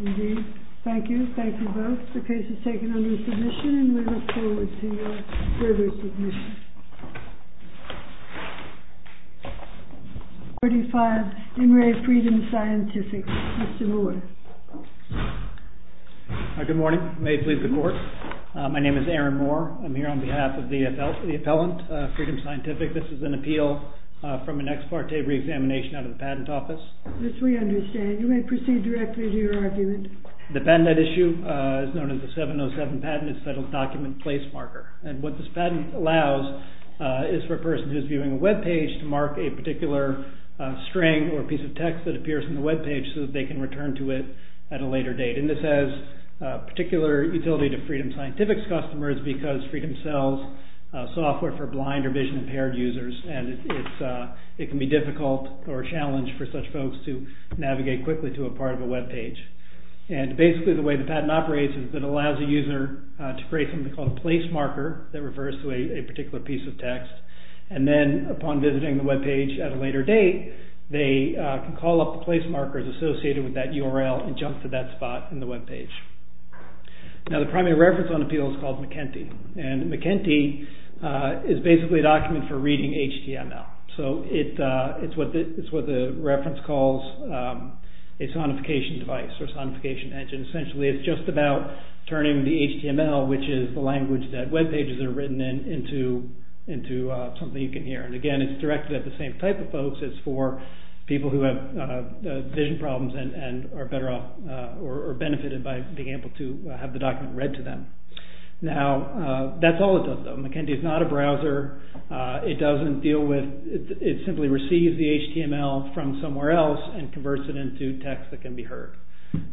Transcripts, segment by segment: MR. MOORE. Good morning. May it please the Court. My name is Aaron Moore. I am here on behalf of the appellant, Freedom Scientific. This is an appeal from an ex parte reexamination out of the Patent Office. THE COURT. Yes, we understand. You may proceed directly to your argument. MR. MOORE. The patent at issue is known as the 707 patent. It's a settled document place marker. And what this patent allows is for a person who is viewing a webpage to mark a particular string or piece of text that appears on the webpage so that they can return to it at a later date. And this has particular utility to Freedom Scientific's customers because Freedom sells software for blind or vision impaired users and it can be difficult or a challenge for such folks to navigate quickly to a part of a webpage. And basically the way the patent operates is it allows a user to create something called a place marker that refers to a particular piece of text and then upon visiting the webpage at a later date, they can call up the place markers associated with that URL and jump to that spot in the webpage. Now the primary reference on the appeal is called McKenty. And McKenty is basically a document for reading HTML. So it's what the reference calls a sonification device or sonification engine. Essentially, it's just about turning the HTML which is the language that webpages are written in into something you can hear. And again, it's directed at the same type of folks as for people who have vision problems and are benefited by being able to have the document read to them. Now that's all it does though. McKenty is not a browser. It doesn't deal with, it simply receives the HTML from somewhere else and converts it into text that can be heard.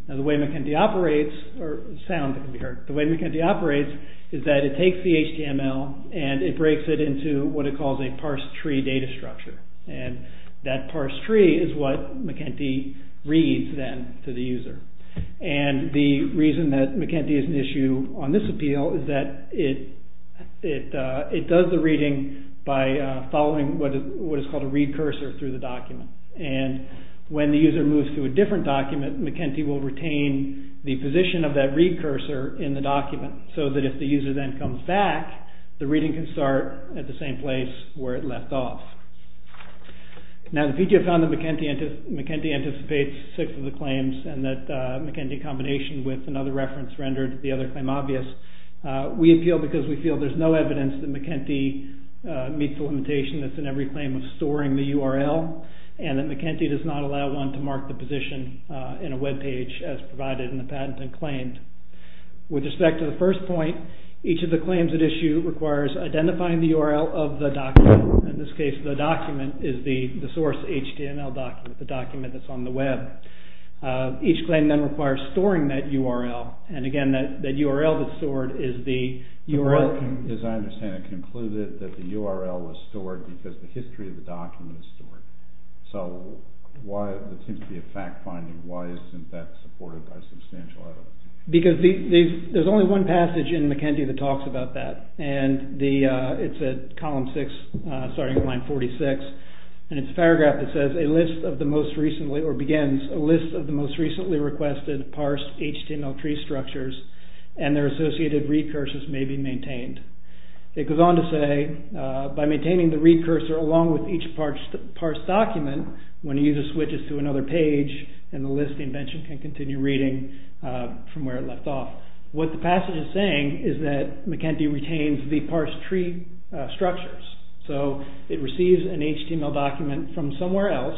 Now the way McKenty operates, or sound that can be heard, the way McKenty operates is that it takes the HTML and it breaks it into what it calls a parse tree data structure. And that parse tree is what McKenty reads then to the user. And the reason that McKenty is an issue on this appeal is that it does the reading by following what is called a read cursor through the document. And when the user moves to a different document, McKenty will retain the position of that read cursor in the document so that if the user then comes back, the reading can start at the same place where it left off. Now the PTO found that McKenty anticipates six of the claims and that McKenty combination with another reference rendered the other claim obvious. We appeal because we feel there's no evidence that McKenty meets the limitation that's in every claim of storing the URL and that McKenty does not allow one to mark the position in a webpage as provided in the patent and claimed. With respect to the first point, each of the claims that issue requires identifying the URL of the document. In this case, the document is the source HTML document, the document that's on the web. Each claim then requires storing that URL. And again, that URL that's stored is the URL... As I understand it concluded that the URL was stored because the history of the document is stored. So why, it seems to be a fact finding, why isn't that supported by substantial evidence? Because there's only one passage in McKenty that talks about that and it's at column 6, starting at line 46. And it's a paragraph that says, a list of the most recently or begins a list of the most recently requested parsed HTML tree structures and their associated read cursors may be maintained. It goes on to say, by maintaining the read cursor along with each parsed document, when a user switches to another page and the list invention can be found from where it left off. What the passage is saying is that McKenty retains the parsed tree structures. So it receives an HTML document from somewhere else.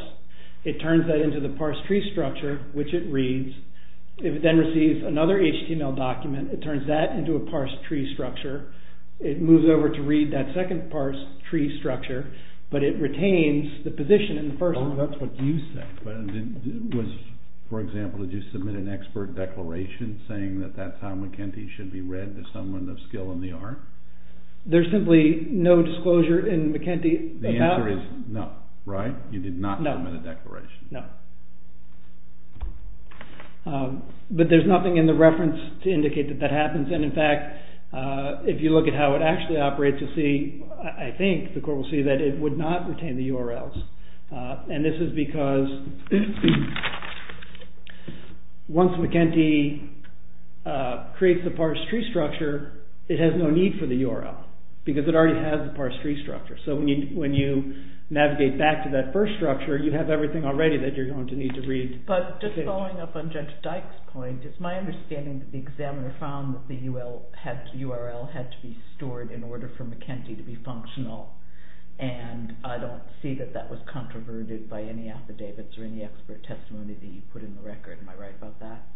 It turns that into the parsed tree structure, which it reads. If it then receives another HTML document, it turns that into a parsed tree structure. It moves over to read that second parsed tree structure, but it retains the position in the first one. Well, that's what you said. For example, did you submit an expert declaration saying that that's how McKenty should be read to someone of skill in the art? There's simply no disclosure in McKenty about... The answer is no, right? You did not submit a declaration. No. But there's nothing in the reference to indicate that that happens. And in fact, if you look at how it actually operates, you'll see, I think the court will see that it would not retain the URLs. And this is because once McKenty creates the parsed tree structure, it has no need for the URL because it already has the parsed tree structure. So when you navigate back to that first structure, you have everything already that you're going to need to read. But just following up on Judge Dyke's point, it's my understanding that the examiner found that the URL had to be stored in order for McKenty to be functional. And I don't see that that was controverted by any affidavits or any expert testimony that you put in the record. Am I right about that?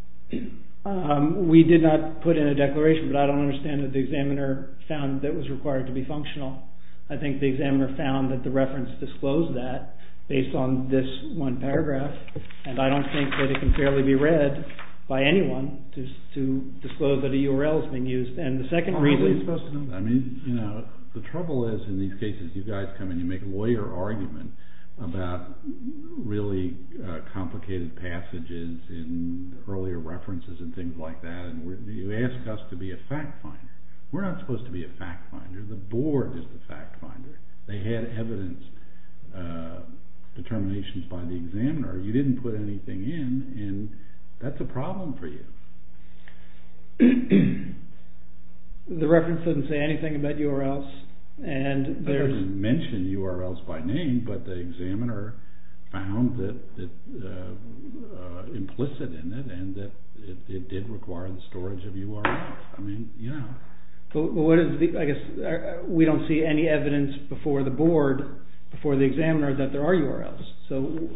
We did not put in a declaration, but I don't understand that the examiner found that it was required to be functional. I think the examiner found that the reference disclosed that based on this one paragraph. And I don't think that it can fairly be read by anyone to disclose that a URL is being used. And the second reason... How are we supposed to know that? I mean, you know, the trouble is in these cases, you guys come and you make a lawyer argument about really complicated passages in earlier references and things like that. And you ask us to be a fact finder. We're not supposed to be a fact finder. The board is the fact finder. They had evidence determinations by the examiner. You didn't put anything in, and that's a problem for you. The reference doesn't say anything about URLs, and there's... It doesn't mention URLs by name, but the examiner found that implicit in it, and that it did require the storage of URLs. I mean, you know. I guess we don't see any evidence before the board, before the examiner, that there are URLs. So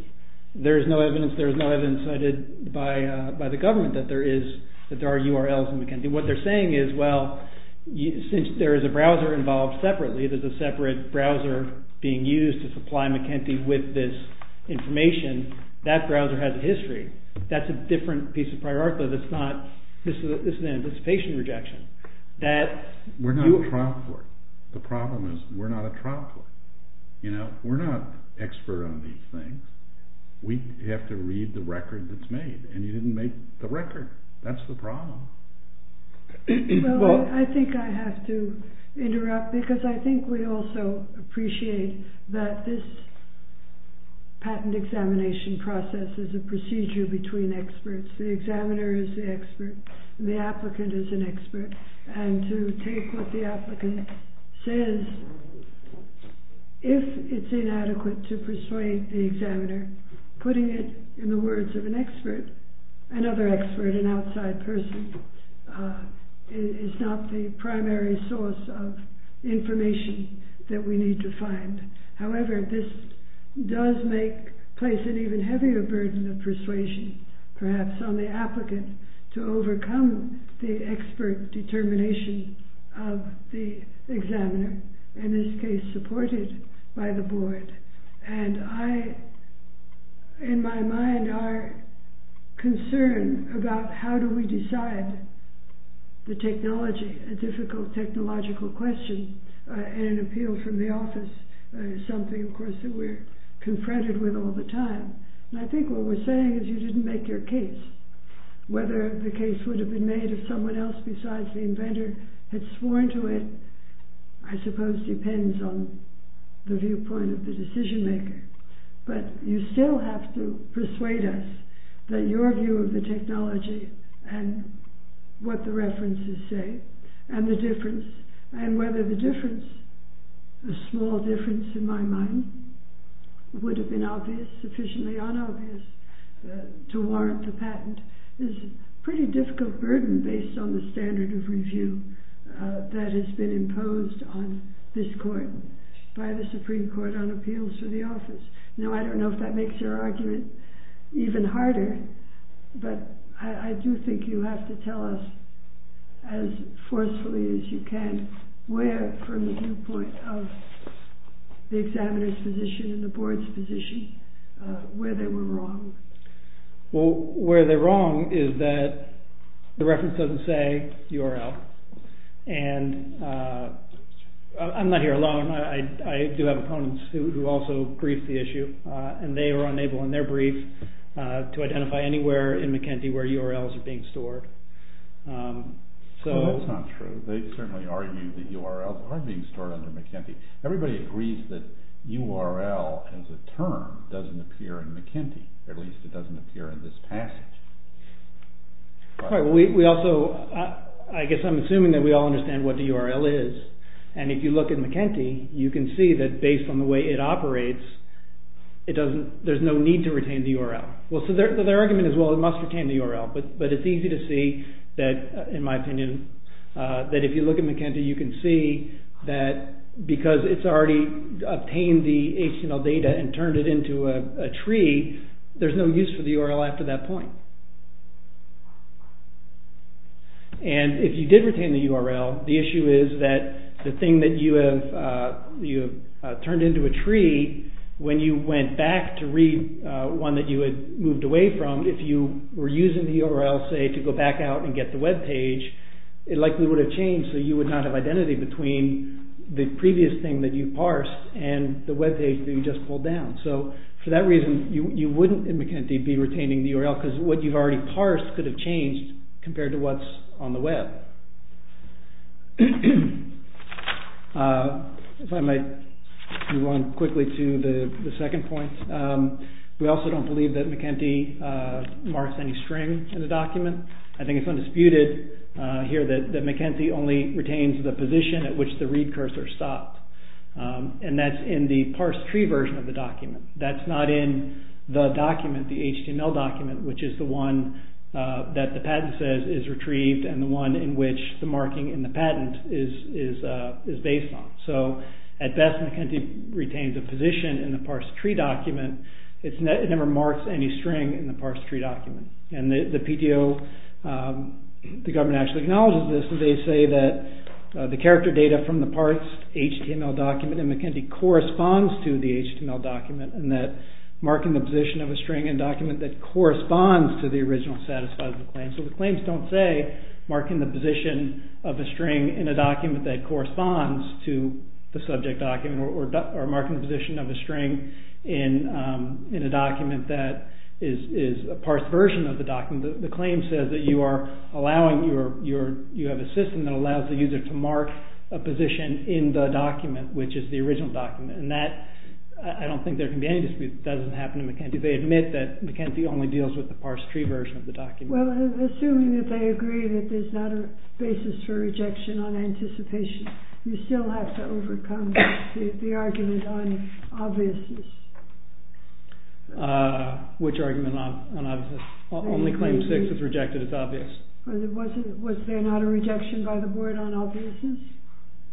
there's no evidence cited by the government that there are URLs in McKinsey. What they're saying is, well, since there is a browser involved separately, there's a separate browser being used to supply McKinsey with this information, that browser has a history. That's a different piece of priority. This is an anticipation rejection. We're not a trial court. The problem is, we're not a trial court. We're not expert on these things. We have to read the record that's made, and you didn't make the record. That's the problem. Well, I think I have to interrupt, because I think we also appreciate that this patent examination process is a procedure between experts. The examiner is the expert, and the it's inadequate to persuade the examiner, putting it in the words of an expert, another expert, an outside person, is not the primary source of information that we need to find. However, this does make place an even heavier burden of persuasion, perhaps on the applicant to overcome the expert determination of the examiner, in this case, supported by the board. In my mind, our concern about how do we decide the technology, a difficult technological question, and an appeal from the office is something, of course, that we're confronted with all the time. I think what we're saying is you didn't make your case. Whether the case would have been made if someone else besides the inventor had sworn to it, I suppose depends on the viewpoint of the decision maker, but you still have to persuade us that your view of the technology, and what the references say, and the difference, and whether the difference, a small difference in my mind, would have been obvious, sufficiently unobvious to warrant the patent, is a pretty difficult burden based on the standard of review that has been imposed on this court by the Supreme Court on appeals for the office. Now, I don't know if that makes your argument even harder, but I do think you have to tell us as forcefully as you can where, from the viewpoint of the examiner's and the board's position, where they were wrong. Well, where they're wrong is that the reference doesn't say URL, and I'm not here alone. I do have opponents who also briefed the issue, and they were unable in their brief to identify anywhere in McKinsey where URLs are being stored. That's not true. They certainly argue that URLs are being stored under McKinsey. Everybody agrees that URL as a term doesn't appear in McKinsey, at least it doesn't appear in this passage. I guess I'm assuming that we all understand what the URL is, and if you look at McKinsey, you can see that based on the way it operates, there's no need to retain the URL. Well, so their argument is, well, it must retain the URL, but it's easy to see that, in my opinion, that if you look at McKinsey, you can see that because it's already obtained the HTML data and turned it into a tree, there's no use for the URL after that point. If you did retain the URL, the issue is that the thing that you have turned into a tree, when you went back to read one that you had moved away from, if you were using the URL, say, to go back out and get the webpage, it likely would have changed, so you would not have identity between the previous thing that you parsed and the webpage that you just pulled down. So, for that reason, you wouldn't, in McKinsey, be retaining the URL because what you've already parsed could have changed compared to what's on the web. If I might move on quickly to the second point, we also don't believe that McKinsey marks any string in the document. I think it's undisputed here that McKinsey only retains the position at which the read cursor stops, and that's in the parsed tree version of the document. That's not in the document, the HTML document, which is the one that the patent says is retrieved and the one in which the marking in the patent is based on. So, at best, McKinsey retains a parsed tree document. It never marks any string in the parsed tree document. The PDO, the government actually acknowledges this. They say that the character data from the parsed HTML document in McKinsey corresponds to the HTML document, and that marking the position of a string in a document that corresponds to the original satisfiable claim. So, the claims don't say marking the position of a string in a document that corresponds to the subject document or marking the position of a string in a document that is a parsed version of the document. The claim says that you have a system that allows the user to mark a position in the document, which is the original document. I don't think there can be any dispute that doesn't happen to McKinsey. They admit that McKinsey only deals with the parsed tree version of the document. Well, assuming that they agree that there's not a basis for rejection on anticipation, you still have to overcome the argument on obviousness. Which argument on obviousness? Only claim six is rejected as obvious. Was there not a rejection by the board on obviousness?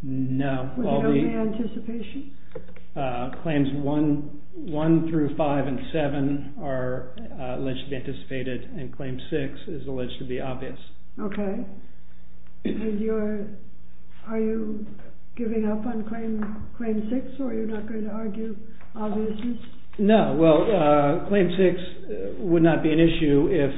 No. Was it only anticipation? Claims one through five and seven are alleged to be anticipated, and claim six is alleged to be given up on claim six, or you're not going to argue obviousness? No. Well, claim six would not be an issue if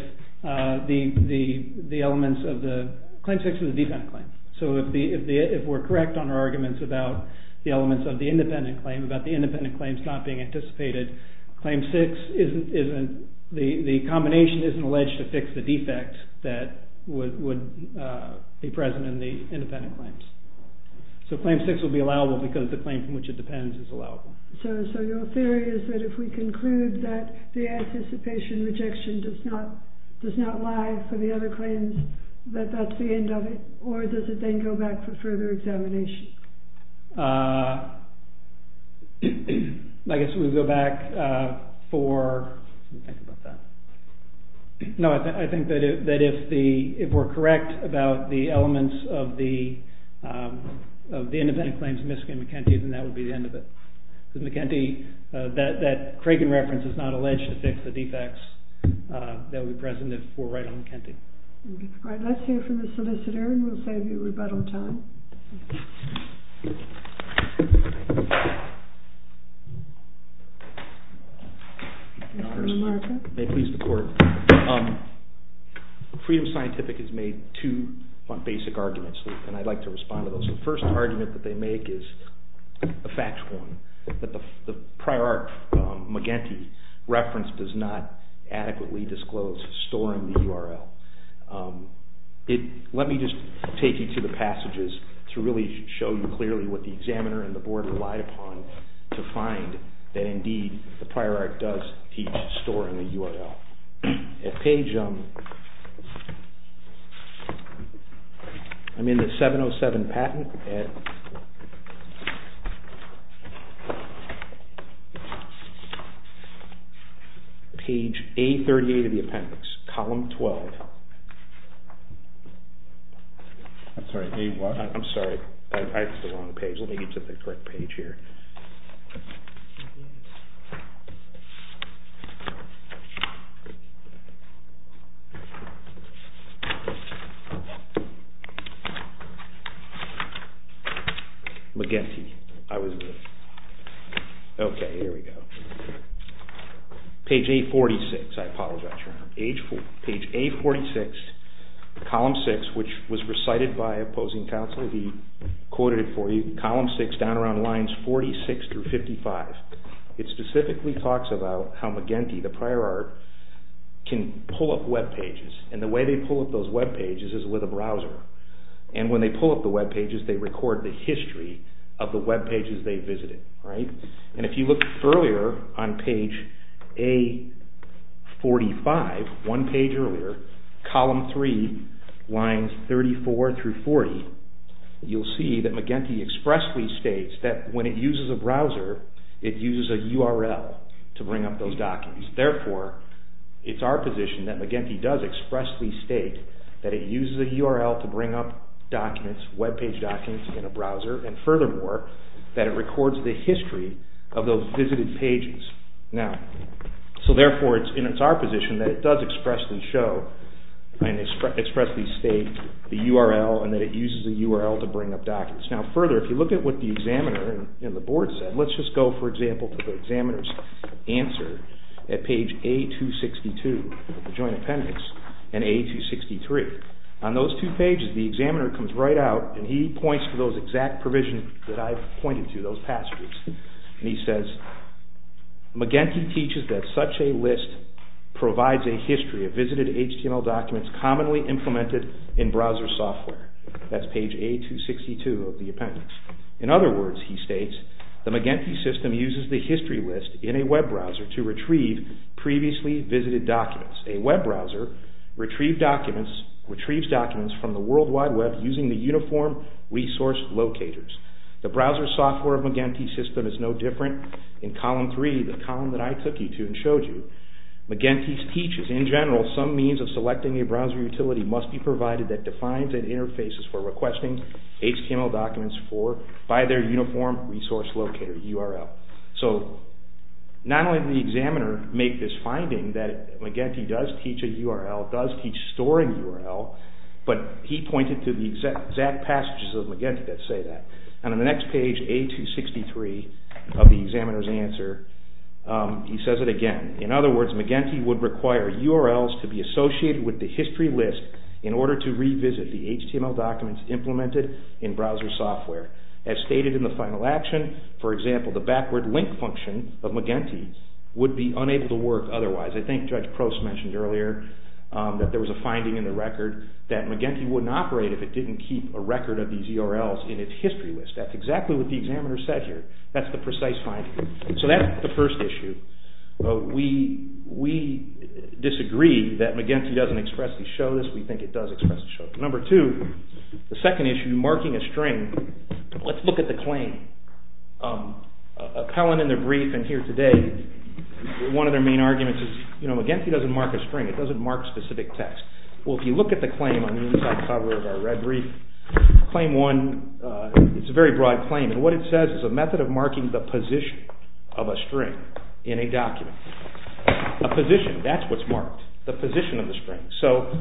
the elements of the... Claim six is a defendant claim. So, if we're correct on our arguments about the elements of the independent claim, about the independent claims not being anticipated, claim six isn't... The combination isn't alleged to fix the defect that would be present in the independent claims. So, claim six would be allowable because the claim from which it depends is allowable. So, your theory is that if we conclude that the anticipation rejection does not lie for the other claims, that that's the end of it, or does it then go back for further examination? I guess we go back for... Let me think about that. No, I think that if we're correct about the elements of the independent claims of Miskin and McEntee, then that would be the end of it. That Cragen reference is not alleged to fix the defects that would be present if we're right on McEntee. Let's hear from the solicitor, and we'll save you rebuttal time. Your Honor, may it please the court. Freedom Scientific has made two basic arguments, and I'd like to respond to those. The first argument that they make is a fact one, that the prior art McEntee reference does not lie for the other claims. Let me just take you through the passages to really show you clearly what the examiner and the board relied upon to find that indeed the prior art does each store in the URL. I'm in the 707 patent at McEntee. Page A38 of the appendix, column 12. I'm sorry, I have the wrong page. Let me get to the correct page here. McEntee. I was good. Okay, here we go. Page A46, I apologize. Page A46, column 6, which was recited by opposing counsel. He quoted it for you. Column 6, down around lines 46 through 55. It specifically talks about how McEntee, the prior art, can pull up webpages, and the way they pull up those webpages is with a browser, and when they pull up the webpages they record the history of the webpages they visited. If you look earlier on page A45, one page earlier, column 3, lines 34 through 40, you'll see that McEntee expressly states that when it uses a browser it uses a URL to bring up those documents. Therefore, it's our position that McEntee does expressly state that it uses a URL to furthermore, that it records the history of those visited pages. So therefore, it's our position that it does expressly state the URL and that it uses the URL to bring up documents. Further, if you look at what the examiner and the board said, let's just go, for example, to the examiner's answer at page A262, the joint appendix, and A263. On those two pages, the examiner comes right out and he points to those exact provisions that I've pointed to, those passages, and he says, McEntee teaches that such a list provides a history of visited HTML documents commonly implemented in browser software. That's page A262 of the appendix. In other words, he states, the McEntee system uses the history list in a web browser to retrieve documents from the World Wide Web using the uniform resource locators. The browser software of McEntee's system is no different. In column 3, the column that I took you to and showed you, McEntee's teaches, in general, some means of selecting a browser utility must be provided that defines and interfaces for requesting HTML documents by their uniform resource locator URL. So not only did the examiner make this finding that McEntee does teach a URL, does teach a storing URL, but he pointed to the exact passages of McEntee that say that. And on the next page, A263 of the examiner's answer, he says it again. In other words, McEntee would require URLs to be associated with the history list in order to revisit the HTML documents implemented in browser software. As stated in the final action, for example, the backward link function of McEntee would be unable to work otherwise. I think Judge Prost mentioned earlier that there was a finding in the record that McEntee wouldn't operate if it didn't keep a record of these URLs in its history list. That's exactly what the examiner said here. That's the precise finding. So that's the first issue. We disagree that McEntee doesn't expressly show this. We think it does expressly show it. Number two, the second issue, marking a string. Let's look at the claim. Appellant in their brief and here today, one of their main arguments is McEntee doesn't mark a string. It doesn't mark specific text. Well, if you look at the claim on the inside cover of our red brief, claim one, it's a very broad claim, and what it says is a method of marking the position of a string in a document. A position, that's what's marked, the position of the string. So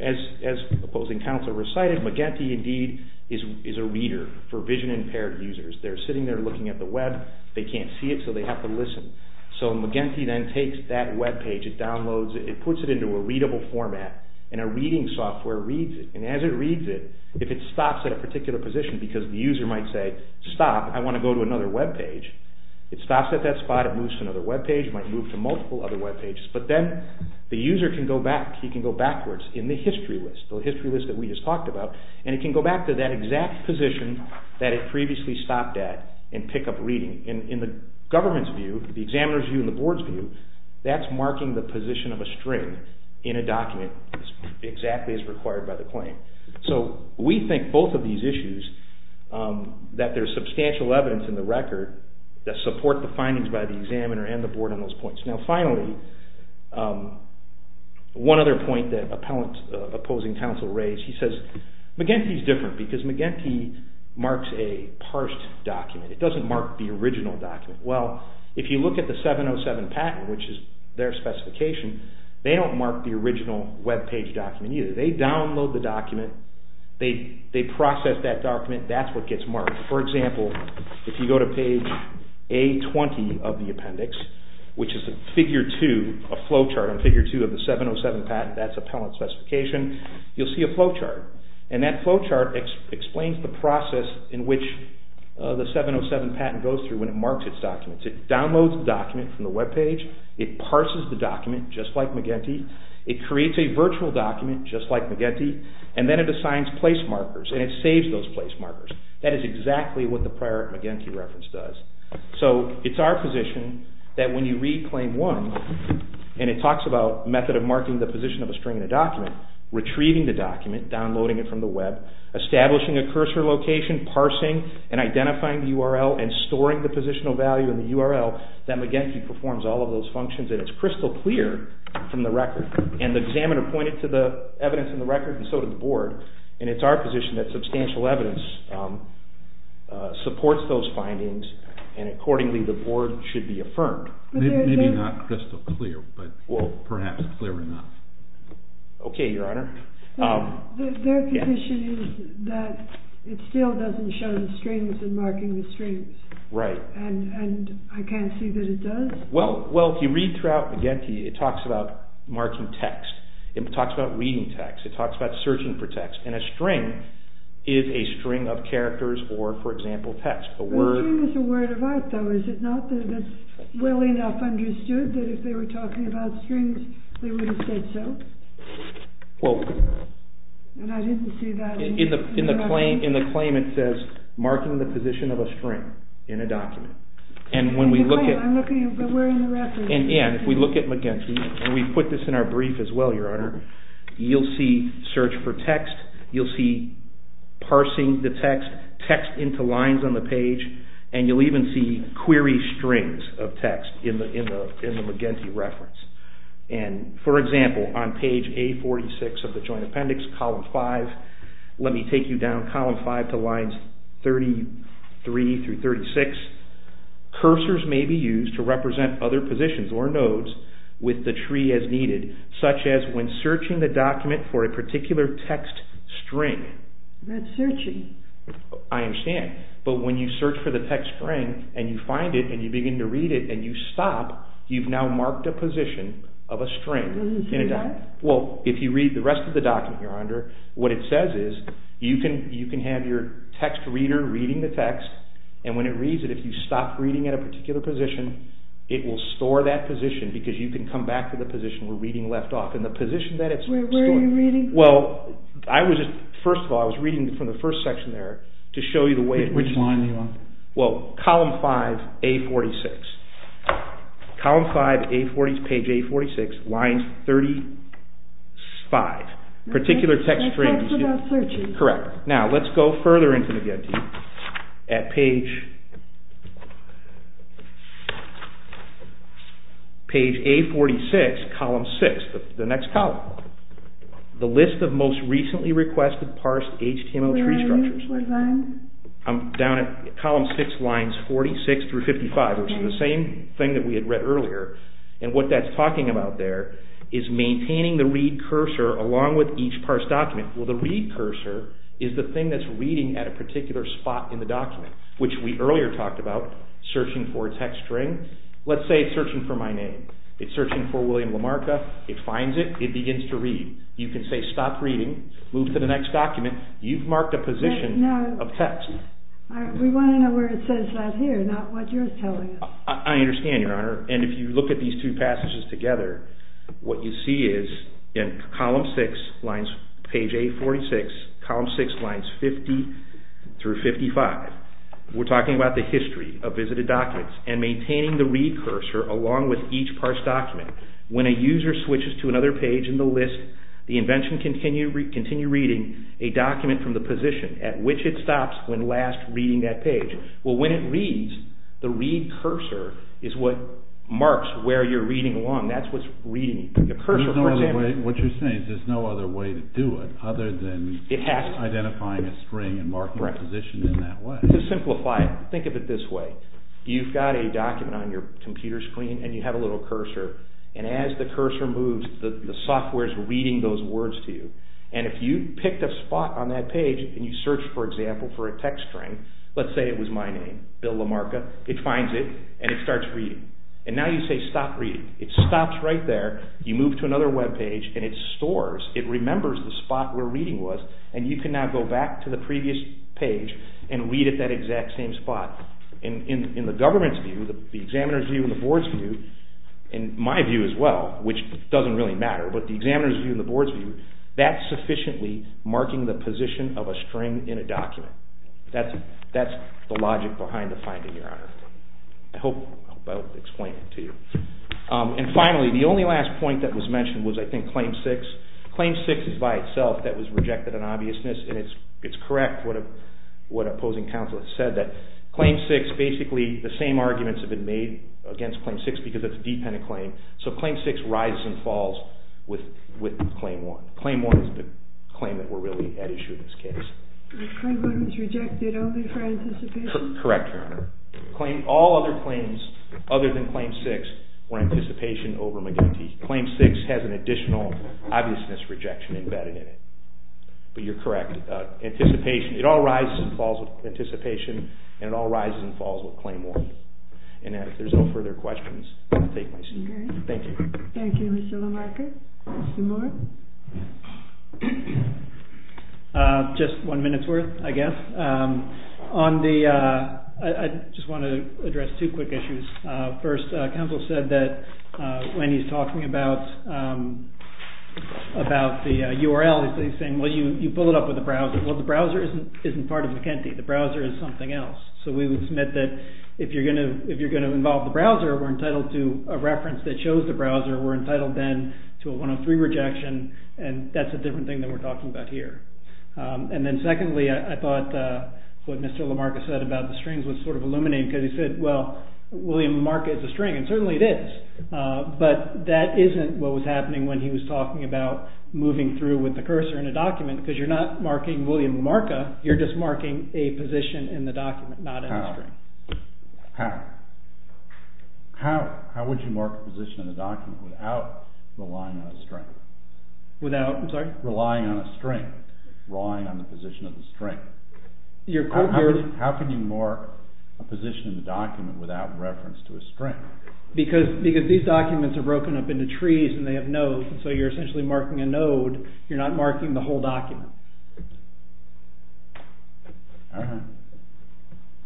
as opposing counsel recited, McEntee indeed is a reader for vision-impaired users. They're sitting there looking at the web. They can't see it, so they have to listen. So McEntee then takes that webpage, it downloads it, it puts it into a readable format, and a reading software reads it, and as it reads it, if it stops at a particular position, because the user might say, stop, I want to go to another webpage, it stops at that spot, it moves to another webpage, it might move to multiple other webpages, but then the user can go back, he can go backwards in the history list, the history list that we just talked about, and he can go back to that exact position that it previously stopped at and pick up reading. In the government's view, the examiner's view and the board's view, that's marking the position of a string in a document exactly as required by the claim. So we think both of these issues, that there's substantial evidence in the record that support the findings by the examiner and the board on those points. Now finally, one other point that opposing counsel raised, he says McEntee's different because McEntee marks a parsed document. It doesn't mark the original document. Well, if you look at the 707 patent, which is their specification, they don't mark the original webpage document either. They download the document, they process that document, that's what gets marked. For example, if you go to page A-20 of the appendix, which is a figure 2, a flowchart on figure 2 of the 707 patent, that's appellant specification, you'll see a flowchart. And that flowchart explains the process in which the 707 patent goes through when it marks its documents. It downloads the document from the webpage, it parses the document just like McEntee, it creates a virtual document just like McEntee, and then it assigns place markers and it saves those place markers. That is exactly what the prior McEntee reference does. So it's our position that when you read claim 1 and it talks about method of marking the position of a string in a document, retrieving the document, downloading it from the web, establishing a cursor location, parsing and identifying the URL and storing the positional value in the URL, that McEntee performs all of those functions and it's crystal clear from the record. And the examiner pointed to the evidence in the record and so did the board. And it's our position that substantial evidence supports those findings and accordingly the board should be affirmed. Maybe not crystal clear, but perhaps clear enough. Okay, your honor. Their position is that it still doesn't show the strings and marking the strings. Right. And I can't see that it does. Well, if you read throughout McEntee, it talks about marking text, it talks about reading text, and a string is a string of characters or, for example, text. A string is a word of art though, is it not well enough understood that if they were talking about strings they would have said so? Well, in the claim it says marking the position of a string in a document. And when we look at McEntee, and we put this in our brief as well, your honor, you'll see search for text, you'll see parsing the text, text into lines on the page, and you'll even see query strings of text in the McEntee reference. And, for example, on page A46 of the joint appendix, column five, let me take you down column five to lines 33 through 36, cursors may be used to represent other positions or as needed, such as when searching the document for a particular text string. That's searching. I understand. But when you search for the text string, and you find it, and you begin to read it, and you stop, you've now marked a position of a string. Well, if you read the rest of the document, your honor, what it says is you can have your text reader reading the text, and when it reads it, if you stop reading at a particular position, it will store that position, because you can come back to the position we're reading left off. And the position that it's stored... Where are you reading from? Well, I was just, first of all, I was reading from the first section there to show you the way it reads. Which line are you on? Well, column five, A46. Column five, A40, page A46, lines 35, particular text string. That's what I'm searching. Correct. Now, let's go further into the Getty at page A46, column six, the next column. The list of most recently requested parsed HTML tree structures. I'm down at column six, lines 46 through 55, which is the same thing that we had read earlier. And what that's talking about there is maintaining the read cursor along with each parsed document. Well, the read cursor is the thing that's reading at a particular spot in the document, which we earlier talked about searching for a text string. Let's say it's searching for my name. It's searching for William Lamarca. It finds it. It begins to read. You can say, stop reading, move to the next document. You've marked a position of text. We want to know where it says that here, not what you're telling us. I understand, Your Honor. And if you look at these two passages together, what you see is in column six, page A46, column six, lines 50 through 55, we're talking about the history of visited documents and maintaining the read cursor along with each parsed document. When a user switches to another page in the list, the invention can continue reading a document from the position at which it stops when last reading that page. Well, when it reads, the read cursor is what marks where you're reading along. That's what's reading. What you're saying is there's no other way to do it other than identifying a string and marking a position in that way. To simplify it, think of it this way. You've got a document on your computer screen, and you have a little cursor. And as the cursor moves, the software is reading those words to you. And if you picked a spot on that page and you searched, for example, for a text string, let's say it was my name, Bill LaMarca. It finds it, and it starts reading. And now you say stop reading. It stops right there. You move to another webpage, and it stores. It remembers the spot where reading was, and you can now go back to the previous page and read at that exact same spot. And in the government's view, the examiner's view, and the board's view, and my view as well, which doesn't really matter, but the examiner's view and the board's view, that's sufficiently marking the position of a string in a document. That's the logic behind the finding, Your Honor. I hope I explained it to you. And finally, the only last point that was mentioned was, I think, Claim 6. Claim 6 is by itself that was rejected in obviousness, and it's correct what opposing counsel has said, that Claim 6, basically the same arguments have been made against Claim 6 because it's a dependent claim. So Claim 6 rises and falls with Claim 1. Claim 1 is the claim that we're really at issue in this case. And Claim 1 was rejected only for anticipation? Correct, Your Honor. Claim, all other claims other than Claim 6, were anticipation over McGinty. Claim 6 has an additional obviousness rejection embedded in it. But you're correct. Anticipation, it all rises and falls with anticipation, and it all rises and falls with Claim 1. And if there's no further questions, I'll take my seat. Thank you. Thank you, Mr. Lamarcker. Mr. Moore? Just one minute's worth, I guess. On the, I just want to address two quick issues. First, counsel said that when he's talking about the URL, he's saying, well, you pull it up with the browser. Well, the browser isn't part of McGinty. The browser is something else. So we would submit that if you're going to involve the browser, we're entitled to a reference that shows the browser, we're entitled then to a 103 rejection. And that's a different thing that we're talking about here. And then secondly, I thought what Mr. Lamarcker said about the strings was sort of illuminating, because he said, well, William Lamarcker is a string. And certainly it is. But that isn't what was happening when he was talking about moving through with the cursor in a document, because you're not marking William Lamarcker. You're just marking a position in the document, not in the string. Without, I'm sorry? Relying on a string. Relying on the position of the string. How can you mark a position in the document without reference to a string? Because these documents are broken up into trees and they have nodes. So you're essentially marking a node. You're not marking the whole document.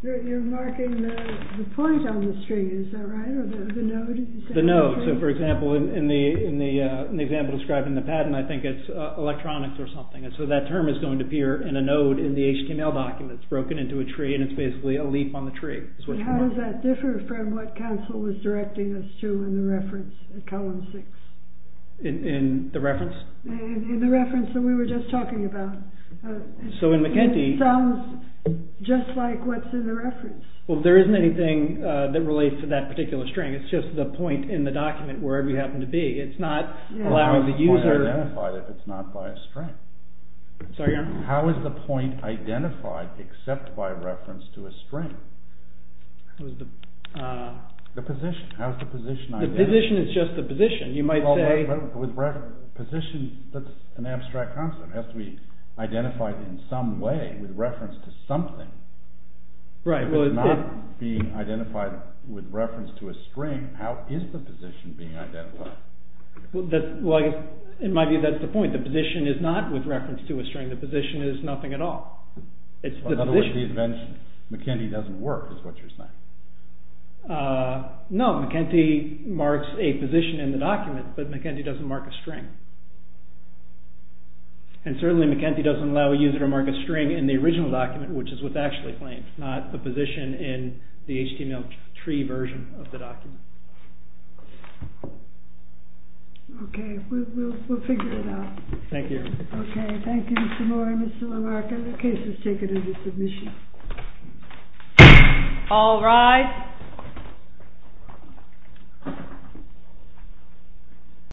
You're marking the point on the string, is that right? Or the node? The node. So for example, in the example described in the patent, I think it's electronics or something. So that term is going to appear in a node in the HTML document. It's broken into a tree and it's basically a leap on the tree. And how does that differ from what Council was directing us to in the reference in column six? In the reference? In the reference that we were just talking about. So in McEntee... Sounds just like what's in the reference. Well, there isn't anything that relates to that particular string. It's just the point in the document, wherever you happen to be. It's not allowing the user... How is the point identified if it's not by a string? How is the point identified except by reference to a string? The position. How is the position identified? The position is just the position. You might say... Position, that's an abstract concept. It has to be identified in some way with reference to something. Right. If it's not being identified with reference to a string, how is the position being identified? Well, in my view, that's the point. The position is not with reference to a string. The position is nothing at all. It's the position. In other words, the invention. McEntee doesn't work, is what you're saying. No, McEntee marks a position in the document, but McEntee doesn't mark a string. And certainly McEntee doesn't allow a user to mark a string in the original document, which is what's actually claimed, not a position in the HTML3 version of the document. Okay, we'll figure it out. Thank you. Okay. Thank you, Mr. Moore and Mr. LaMarca. The case is taken into submission. All rise.